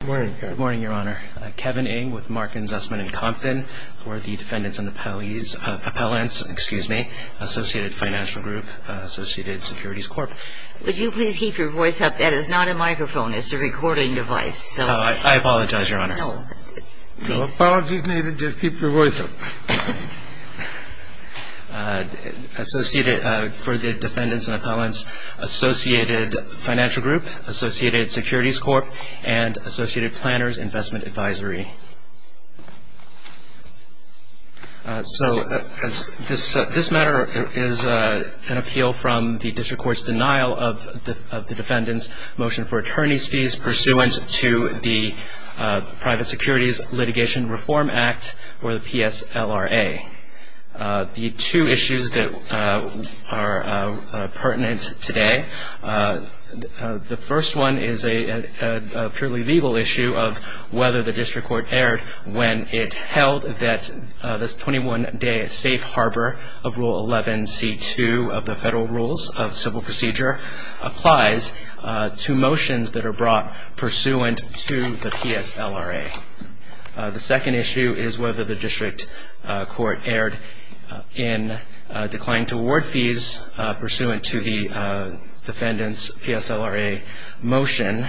Good morning, Kevin. Good morning, Your Honor. Kevin Ng with Mark and Zussman & Compton for the Defendants and Appellants, Associated Financial Group, Associated Securities Corp. Would you please keep your voice up? That is not a microphone. It's a recording device. I apologize, Your Honor. No. No apologies needed. Just keep your voice up. Associated for the Defendants and Appellants, Associated Financial Group, Associated Securities Corp. and Associated Planners Investment Advisory. So this matter is an appeal from the District Court's denial of the Defendant's motion for attorney's fees pursuant to the Private Securities Litigation Reform Act, or the PSLRA. The two issues that are pertinent today, the first one is a purely legal issue of whether the District Court erred when it held that this 21-day safe harbor of Rule 11c2 of the Federal Rules of Civil Procedure applies to motions that are brought pursuant to the PSLRA. The second issue is whether the District Court erred in declining to award fees pursuant to the Defendant's PSLRA motion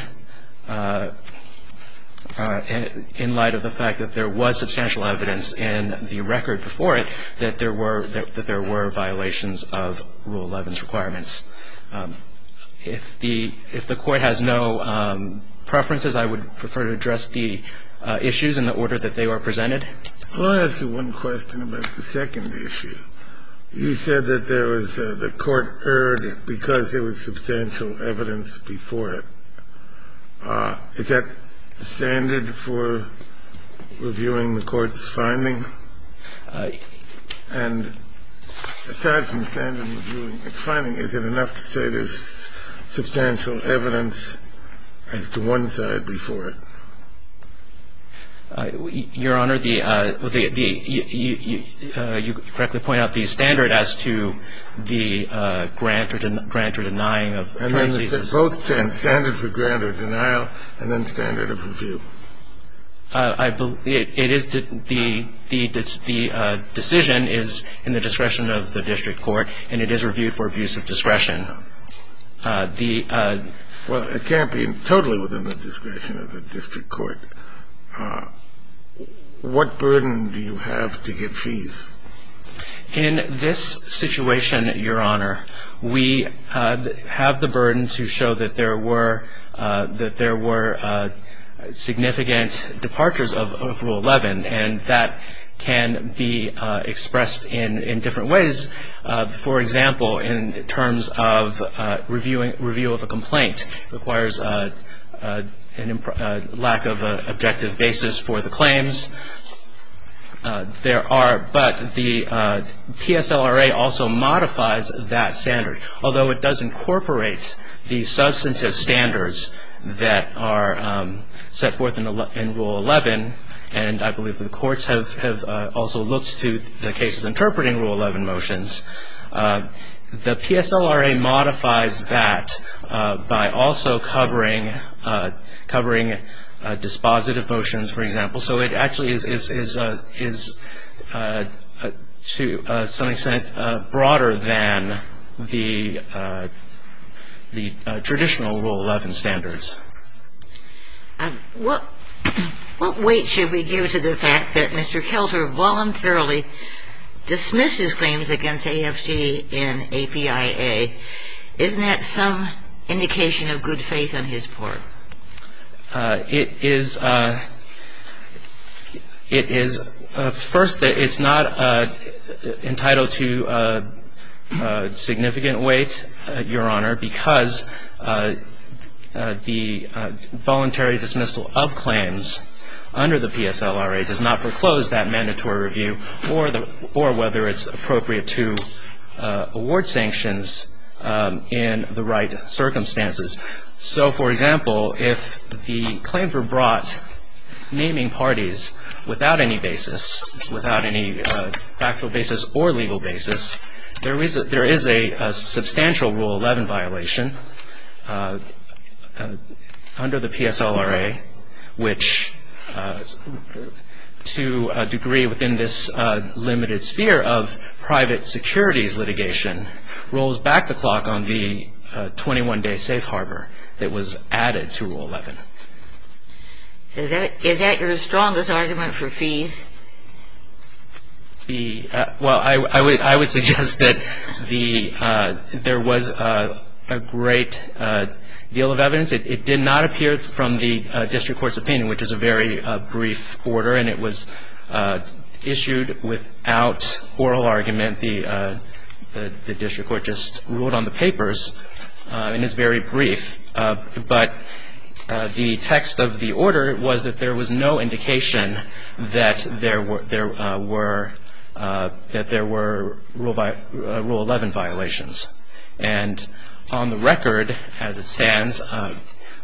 in light of the fact that there was substantial evidence in the record before it that there were violations of Rule 11's requirements. If the Court has no preferences, I would prefer to address the issues in the order that they were presented. I'll ask you one question about the second issue. You said that there was the Court erred because there was substantial evidence before it. Is that standard for reviewing the Court's finding? And aside from standard reviewing its finding, is it enough to say there's substantial evidence as to one side before it? Your Honor, the – you correctly point out the standard as to the grant or denying of fees. And then is it both standard for grant or denial and then standard of review? It is – the decision is in the discretion of the District Court and it is reviewed for abuse of discretion. Well, it can't be totally within the discretion of the District Court. What burden do you have to get fees? In this situation, Your Honor, we have the burden to show that there were – that there were significant departures of Rule 11. And that can be expressed in different ways. For example, in terms of review of a complaint requires a lack of objective basis for the claims. There are – but the PSLRA also modifies that standard. Although it does incorporate the substantive standards that are set forth in Rule 11 and I believe the courts have also looked to the cases interpreting Rule 11 motions, the PSLRA modifies that by also covering dispositive motions, for example. So it actually is to some extent broader than the traditional Rule 11 standards. What weight should we give to the fact that Mr. Kelter voluntarily dismisses claims against AFG in APIA? Isn't that some indication of good faith on his part? It is – first, it's not entitled to significant weight, Your Honor, because the voluntary dismissal of claims under the PSLRA does not foreclose that mandatory review or whether it's appropriate to award sanctions in the right circumstances. So, for example, if the claims were brought naming parties without any basis, without any factual basis or legal basis, there is a substantial Rule 11 violation under the PSLRA, which to a degree within this limited sphere of private securities litigation, rolls back the clock on the 21-day safe harbor that was added to Rule 11. Is that your strongest argument for fees? Well, I would suggest that there was a great deal of evidence. It did not appear from the district court's opinion, which is a very brief order, and it was issued without oral argument. The district court just ruled on the papers, and it's very brief. But the text of the order was that there was no indication that there were Rule 11 violations. And on the record, as it stands,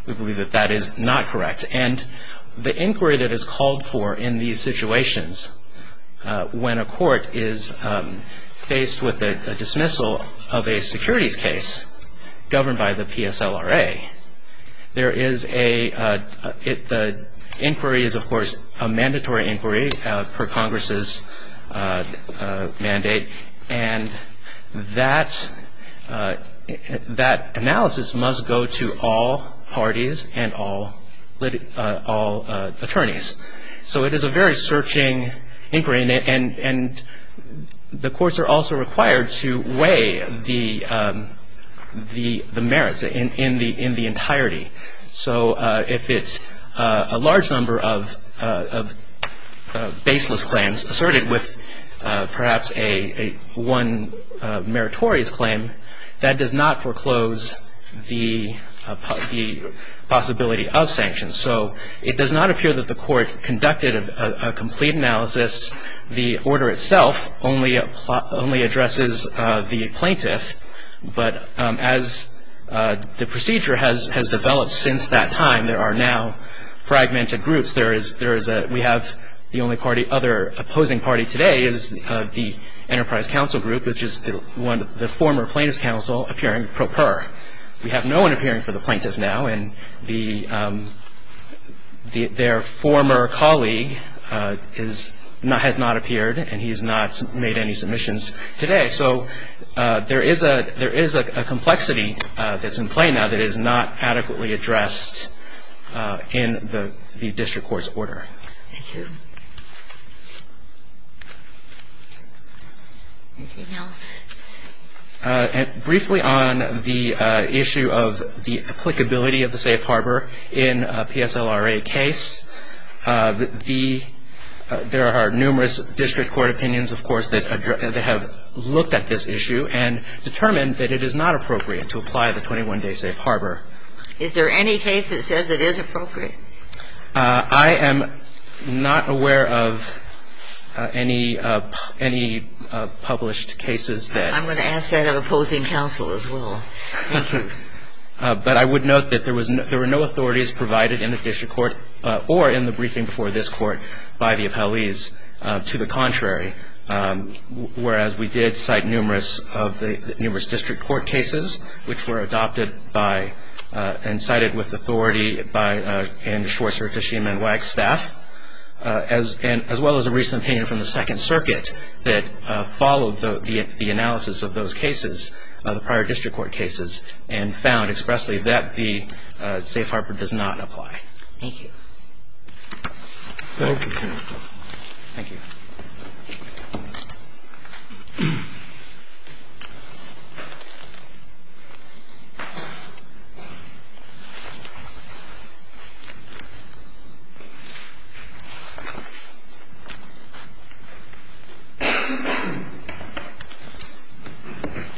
we believe that that is not correct. And the inquiry that is called for in these situations, when a court is faced with a dismissal of a securities case governed by the PSLRA, the inquiry is, of course, a mandatory inquiry per Congress's mandate. And that analysis must go to all parties and all attorneys. So it is a very searching inquiry, and the courts are also required to weigh the merits in the entirety. So if it's a large number of baseless claims asserted with perhaps one meritorious claim, that does not foreclose the possibility of sanctions. So it does not appear that the court conducted a complete analysis. The order itself only addresses the plaintiff. But as the procedure has developed since that time, there are now fragmented groups. We have the only other opposing party today is the Enterprise Counsel Group, which is the former plaintiff's counsel appearing pro per. We have no one appearing for the plaintiff now, and their former colleague has not appeared, and he has not made any submissions today. So there is a complexity that's in play now that is not adequately addressed in the district court's order. Thank you. Anything else? Briefly on the issue of the applicability of the safe harbor in a PSLRA case, there are numerous district court opinions, of course, that have looked at this issue and determined that it is not appropriate to apply the 21-day safe harbor. Is there any case that says it is appropriate? I am not aware of any published cases that ---- I'm going to ask that of opposing counsel as well. Thank you. But I would note that there were no authorities provided in the district court or in the briefing before this court by the appellees. To the contrary, whereas we did cite numerous district court cases, which were adopted by and cited with authority by Andy Schwartz and Tashima and Wagstaff, as well as a recent opinion from the Second Circuit that followed the analysis of those cases, the prior district court cases, and found expressly that the safe harbor does not apply. Thank you. Thank you.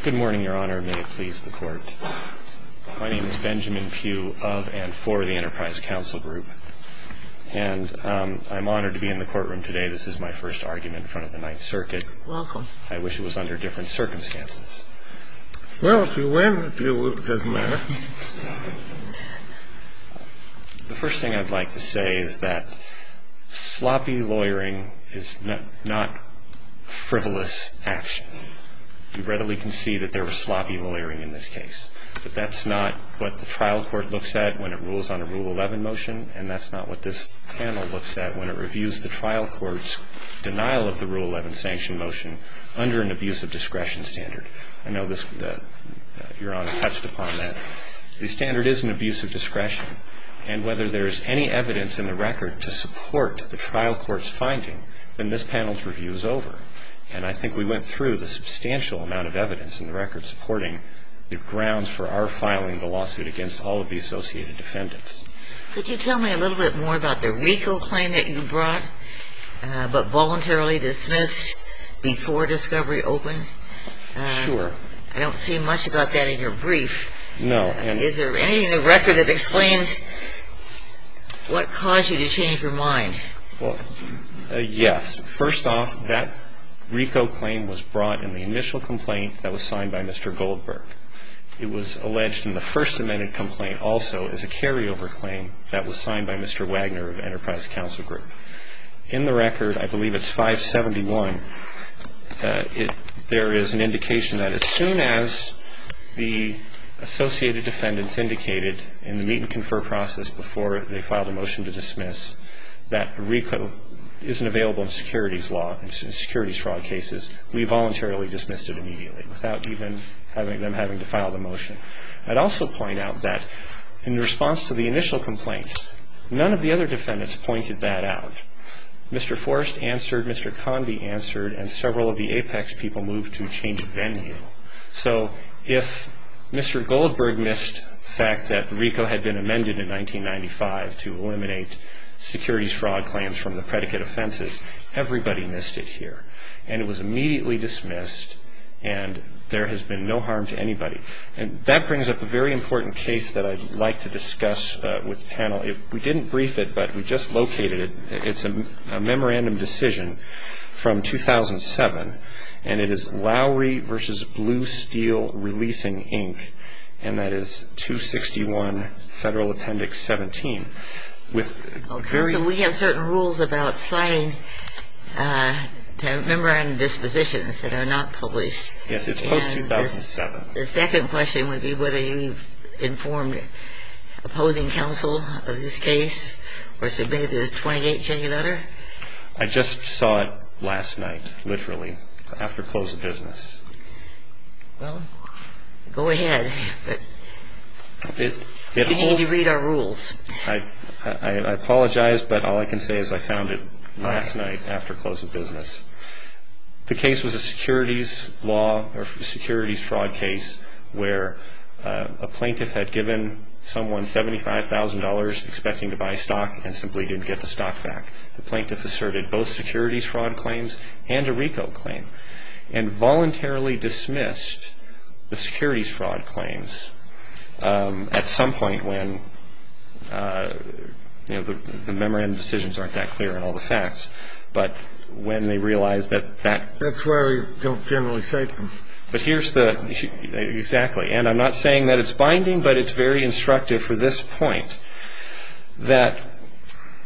Good morning, Your Honor. May it please the Court. My name is Benjamin Pugh of and for the Enterprise Counsel Group. And I'm honored to be in the courtroom today. This is my first argument in front of the Ninth Circuit. Welcome. I wish it was under different circumstances. Well, if you win, Pugh, it doesn't matter. The first thing I'd like to say is that sloppy lawyering is not frivolous action. You readily can see that there was sloppy lawyering in this case. But that's not what the trial court looks at when it rules on a Rule 11 motion, and that's not what this panel looks at when it reviews the trial court's denial of the Rule 11 sanction motion under an abuse of discretion standard. I know that Your Honor touched upon that. The standard is an abuse of discretion. And whether there's any evidence in the record to support the trial court's finding, then this panel's review is over. And I think we went through the substantial amount of evidence in the record supporting the grounds for our filing the lawsuit against all of the associated defendants. Could you tell me a little bit more about the RICO claim that you brought, but voluntarily dismissed before discovery opened? Sure. I don't see much about that in your brief. No. Is there anything in the record that explains what caused you to change your mind? Well, yes. First off, that RICO claim was brought in the initial complaint that was signed by Mr. Goldberg. It was alleged in the first amended complaint also as a carryover claim that was signed by Mr. Wagner of Enterprise Counsel Group. In the record, I believe it's 571, there is an indication that as soon as the associated defendants indicated in the meet and confer process before they filed a motion to dismiss that RICO isn't available in securities law, in securities fraud cases, we voluntarily dismissed it immediately without even having them having to file the motion. I'd also point out that in response to the initial complaint, none of the other defendants pointed that out. Mr. Forrest answered, Mr. Conde answered, and several of the APEX people moved to change venue. So if Mr. Goldberg missed the fact that RICO had been amended in 1995 to eliminate securities fraud claims from the predicate offenses, everybody missed it here. And it was immediately dismissed, and there has been no harm to anybody. And that brings up a very important case that I'd like to discuss with the panel. We didn't brief it, but we just located it. It's a memorandum decision from 2007, and it is Lowry v. Blue Steel Releasing, Inc., and that is 261 Federal Appendix 17. So we have certain rules about signing memorandum dispositions that are not published. Yes, it's post-2007. The second question would be whether you've informed opposing counsel of this case or submitted this 28-checking letter. I just saw it last night, literally, after close of business. Well, go ahead, but you need to read our rules. I apologize, but all I can say is I found it last night after close of business. The case was a securities law or securities fraud case where a plaintiff had given someone $75,000 expecting to buy stock and simply didn't get the stock back. The plaintiff asserted both securities fraud claims and a RICO claim and voluntarily dismissed the securities fraud claims at some point when, you know, the memorandum decisions aren't that clear and all the facts, but when they realize that that That's why we don't generally cite them. But here's the – exactly. And I'm not saying that it's binding, but it's very instructive for this point, that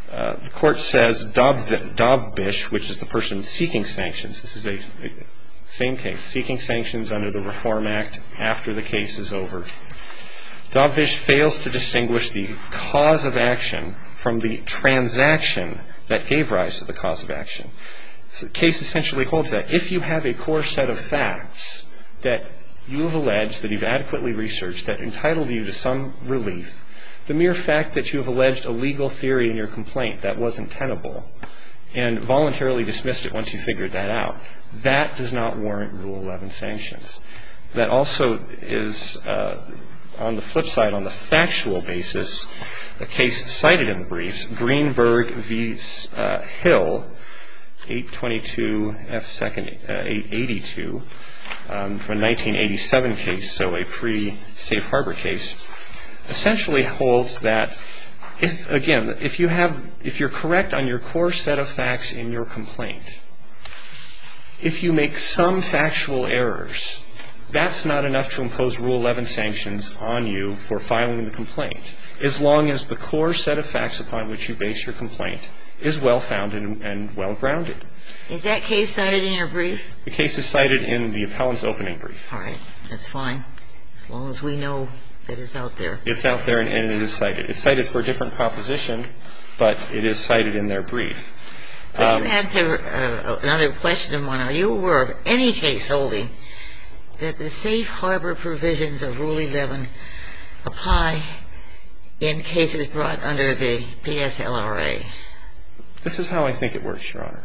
the Court says Dovbisch, which is the person seeking sanctions, this is a same case, seeking sanctions under the Reform Act after the case is over. Dovbisch fails to distinguish the cause of action from the transaction that gave rise to the cause of action. The case essentially holds that if you have a core set of facts that you have alleged, that you've adequately researched, that entitled you to some relief, the mere fact that you have alleged a legal theory in your complaint that wasn't tenable and voluntarily dismissed it once you figured that out, that does not warrant Rule 11 sanctions. That also is, on the flip side, on the factual basis, the case cited in the briefs, Greenberg v. Hill, 822 F. 82, from a 1987 case, so a pre-Safe Harbor case, essentially holds that, again, if you have – if you're correct on your core set of facts in your complaint, if you make some factual errors, that's not enough to impose Rule 11 sanctions on you for filing the complaint, as long as the core set of facts upon which you base your complaint is well-founded and well-grounded. Is that case cited in your brief? The case is cited in the appellant's opening brief. All right. That's fine, as long as we know that it's out there. It's out there and it is cited. It's cited for a different proposition, but it is cited in their brief. Could you answer another question, Mona? Are you aware of any case holding that the Safe Harbor provisions of Rule 11 apply in cases brought under the PSLRA? This is how I think it works, Your Honor.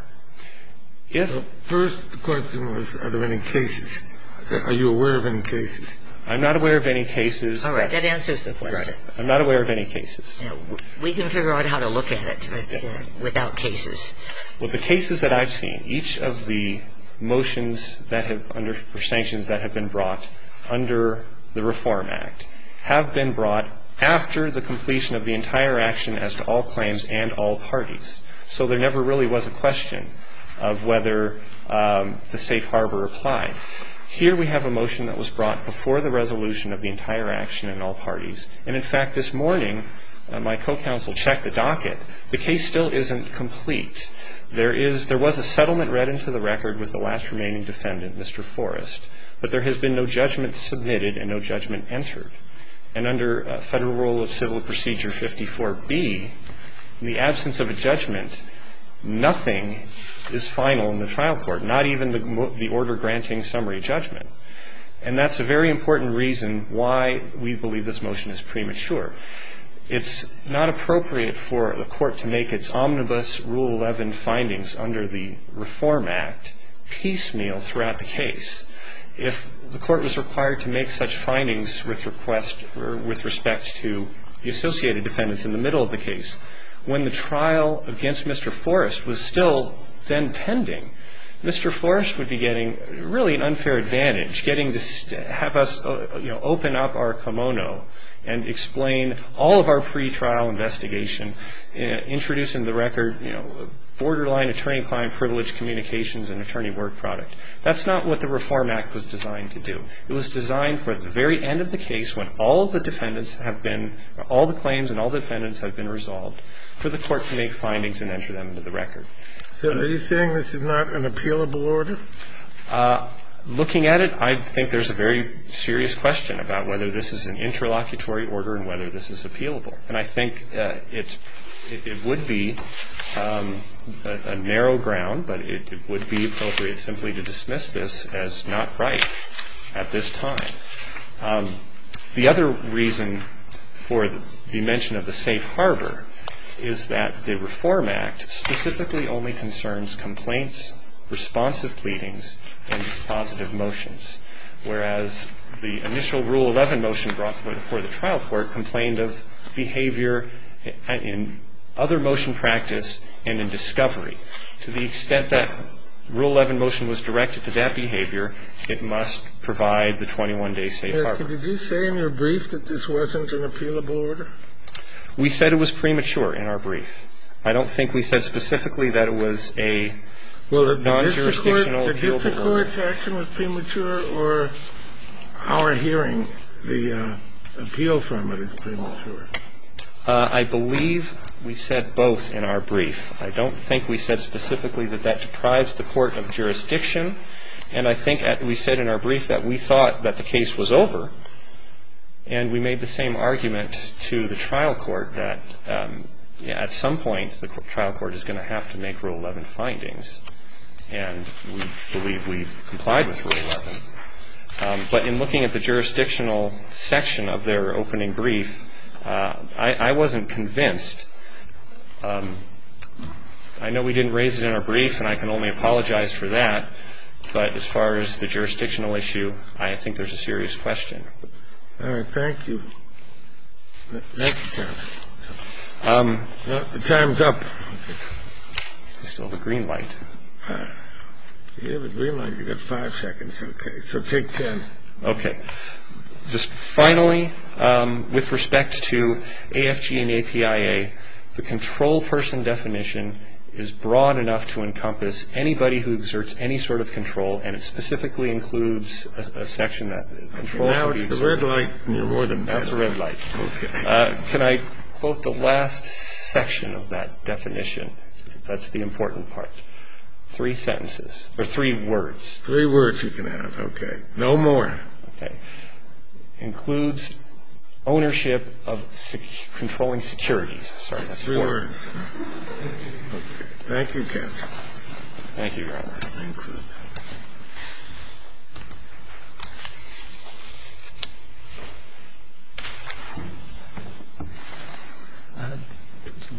The first question was are there any cases. Are you aware of any cases? I'm not aware of any cases. All right. That answers the question. I'm not aware of any cases. We can figure out how to look at it without cases. Well, the cases that I've seen, each of the motions under sanctions that have been brought under the Reform Act have been brought after the completion of the entire action as to all claims and all parties. So there never really was a question of whether the Safe Harbor applied. Here we have a motion that was brought before the resolution of the entire action and all parties. And, in fact, this morning my co-counsel checked the docket. The case still isn't complete. There was a settlement read into the record with the last remaining defendant, Mr. Forrest, but there has been no judgment submitted and no judgment entered. And under Federal Rule of Civil Procedure 54B, in the absence of a judgment, nothing is final in the trial court, not even the order granting summary judgment. And that's a very important reason why we believe this motion is premature. It's not appropriate for the court to make its omnibus Rule 11 findings under the Reform Act piecemeal throughout the case. If the court was required to make such findings with request or with respect to the associated defendants in the middle of the case, when the trial against Mr. Forrest was still then pending, Mr. Forrest would be getting really an unfair advantage, getting to have us, you know, open up our kimono and explain all of our pretrial investigation, introducing the record, you know, borderline attorney-client privilege communications and attorney work product. That's not what the Reform Act was designed to do. It was designed for the very end of the case when all the defendants have been, all the claims and all the defendants have been resolved, for the court to make findings and enter them into the record. So are you saying this is not an appealable order? Looking at it, I think there's a very serious question about whether this is an interlocutory order and whether this is appealable. And I think it would be a narrow ground, but it would be appropriate simply to dismiss this as not right at this time. The other reason for the mention of the safe harbor is that the Reform Act specifically only concerns complaints, responsive pleadings, and dispositive motions, whereas the initial Rule 11 motion brought before the trial court complained of behavior in other motion practice and in discovery. To the extent that Rule 11 motion was directed to that behavior, it must provide the 21-day safe harbor. Did you say in your brief that this wasn't an appealable order? We said it was premature in our brief. I don't think we said specifically that it was a non-jurisdictional appealable order. Well, the district court's action was premature, or our hearing the appeal from it is premature? I believe we said both in our brief. I don't think we said specifically that that deprives the court of jurisdiction. And I think we said in our brief that we thought that the case was over, and we made the same argument to the trial court that, at some point, the trial court is going to have to make Rule 11 findings, and we believe we've complied with Rule 11. But in looking at the jurisdictional section of their opening brief, I wasn't convinced. I know we didn't raise it in our brief, and I can only apologize for that, but as far as the jurisdictional issue, I think there's a serious question. All right. Thank you. Thank you, John. Time's up. I still have a green light. You have a green light. You've got five seconds. Okay. So take ten. Okay. Just finally, with respect to AFG and APIA, the control person definition is broad enough to encompass anybody who exerts any sort of control, and it specifically includes a section that control could be exerted. Now it's the red light, and you're more than done. Now it's the red light. Okay. Can I quote the last section of that definition? That's the important part. Three sentences. Or three words. Three words you can have. Okay. No more. Okay. The definition of control includes ownership of controlling securities. Sorry, that's three words. Three words. Thank you, counsel. Thank you, Your Honor. Thank you.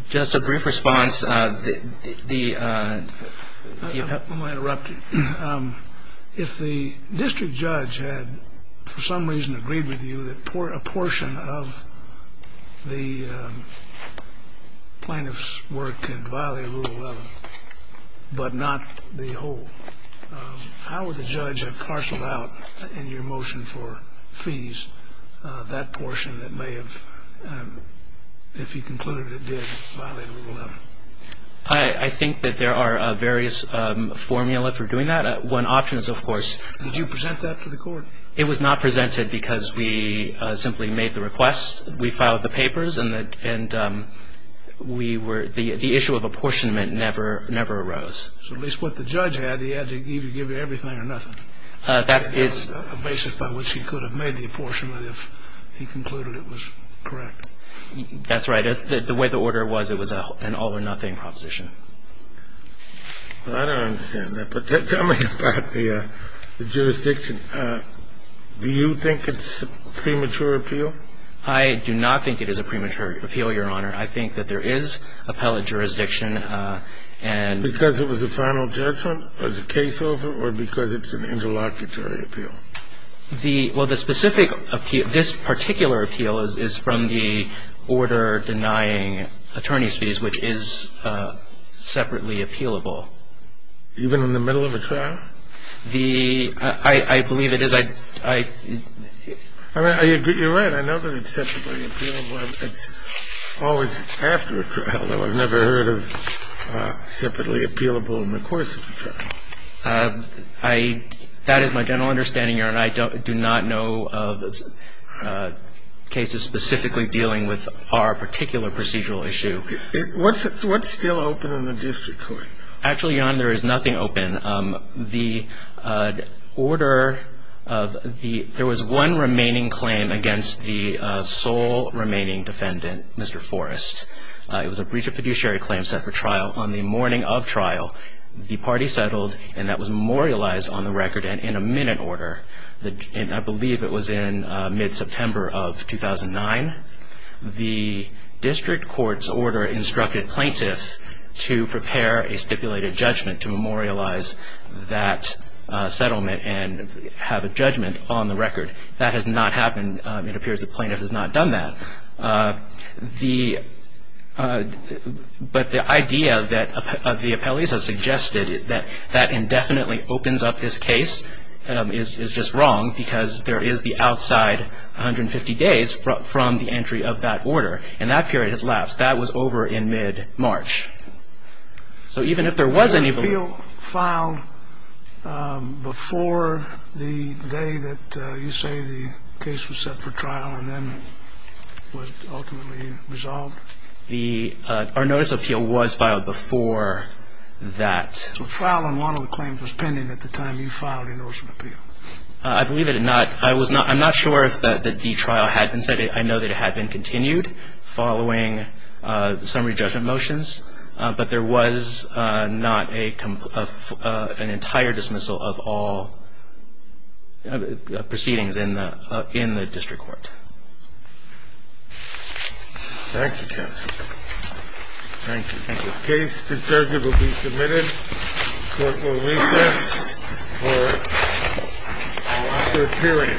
Just a brief response. I might interrupt you. If the district judge had for some reason agreed with you that a portion of the plaintiff's work could violate Rule 11, but not the whole, how would the judge have parceled out in your motion for fees that portion that may have, if he concluded it did violate Rule 11? I think that there are various formula for doing that. One option is, of course. Did you present that to the court? It was not presented because we simply made the request. We filed the papers, and we were the issue of apportionment never arose. So at least what the judge had, he had to either give you everything or nothing. That is. A basis by which he could have made the apportionment if he concluded it was correct. That's right. The way the order was, it was an all or nothing proposition. I don't understand that. Tell me about the jurisdiction. Do you think it's a premature appeal? I do not think it is a premature appeal, Your Honor. I think that there is appellate jurisdiction. Because it was a final judgment, as a case over, or because it's an interlocutory appeal? Well, the specific appeal, this particular appeal is from the order denying attorney's fees, which is separately appealable. Even in the middle of a trial? I believe it is. You're right. It's always after a trial. I've never heard of separately appealable in the course of a trial. That is my general understanding, Your Honor. I do not know of cases specifically dealing with our particular procedural issue. What's still open in the district court? Actually, Your Honor, there is nothing open. The order of the – there was one remaining claim against the sole remaining defendant, Mr. Forrest. It was a breach of fiduciary claim set for trial. On the morning of trial, the party settled, and that was memorialized on the record and in a minute order. I believe it was in mid-September of 2009. The district court's order instructed plaintiffs to prepare a stipulated judgment to memorialize that settlement and have a judgment on the record. That has not happened. It appears the plaintiff has not done that. The – but the idea that the appellees have suggested that that indefinitely opens up this case is just wrong because there is the outside 150 days from the entry of that order, and that period has lapsed. That was over in mid-March. So even if there was any – Was the appeal filed before the day that you say the case was set for trial and then was ultimately resolved? The – our notice of appeal was filed before that. So trial on one of the claims was pending at the time you filed your notice of appeal. I believe it did not. I was not – I'm not sure that the trial had been set. I know that it had been continued following the summary judgment motions, but there was not a – an entire dismissal of all proceedings in the district court. Thank you, counsel. Thank you. Thank you. The case discharges will be submitted. Court will recess for a period.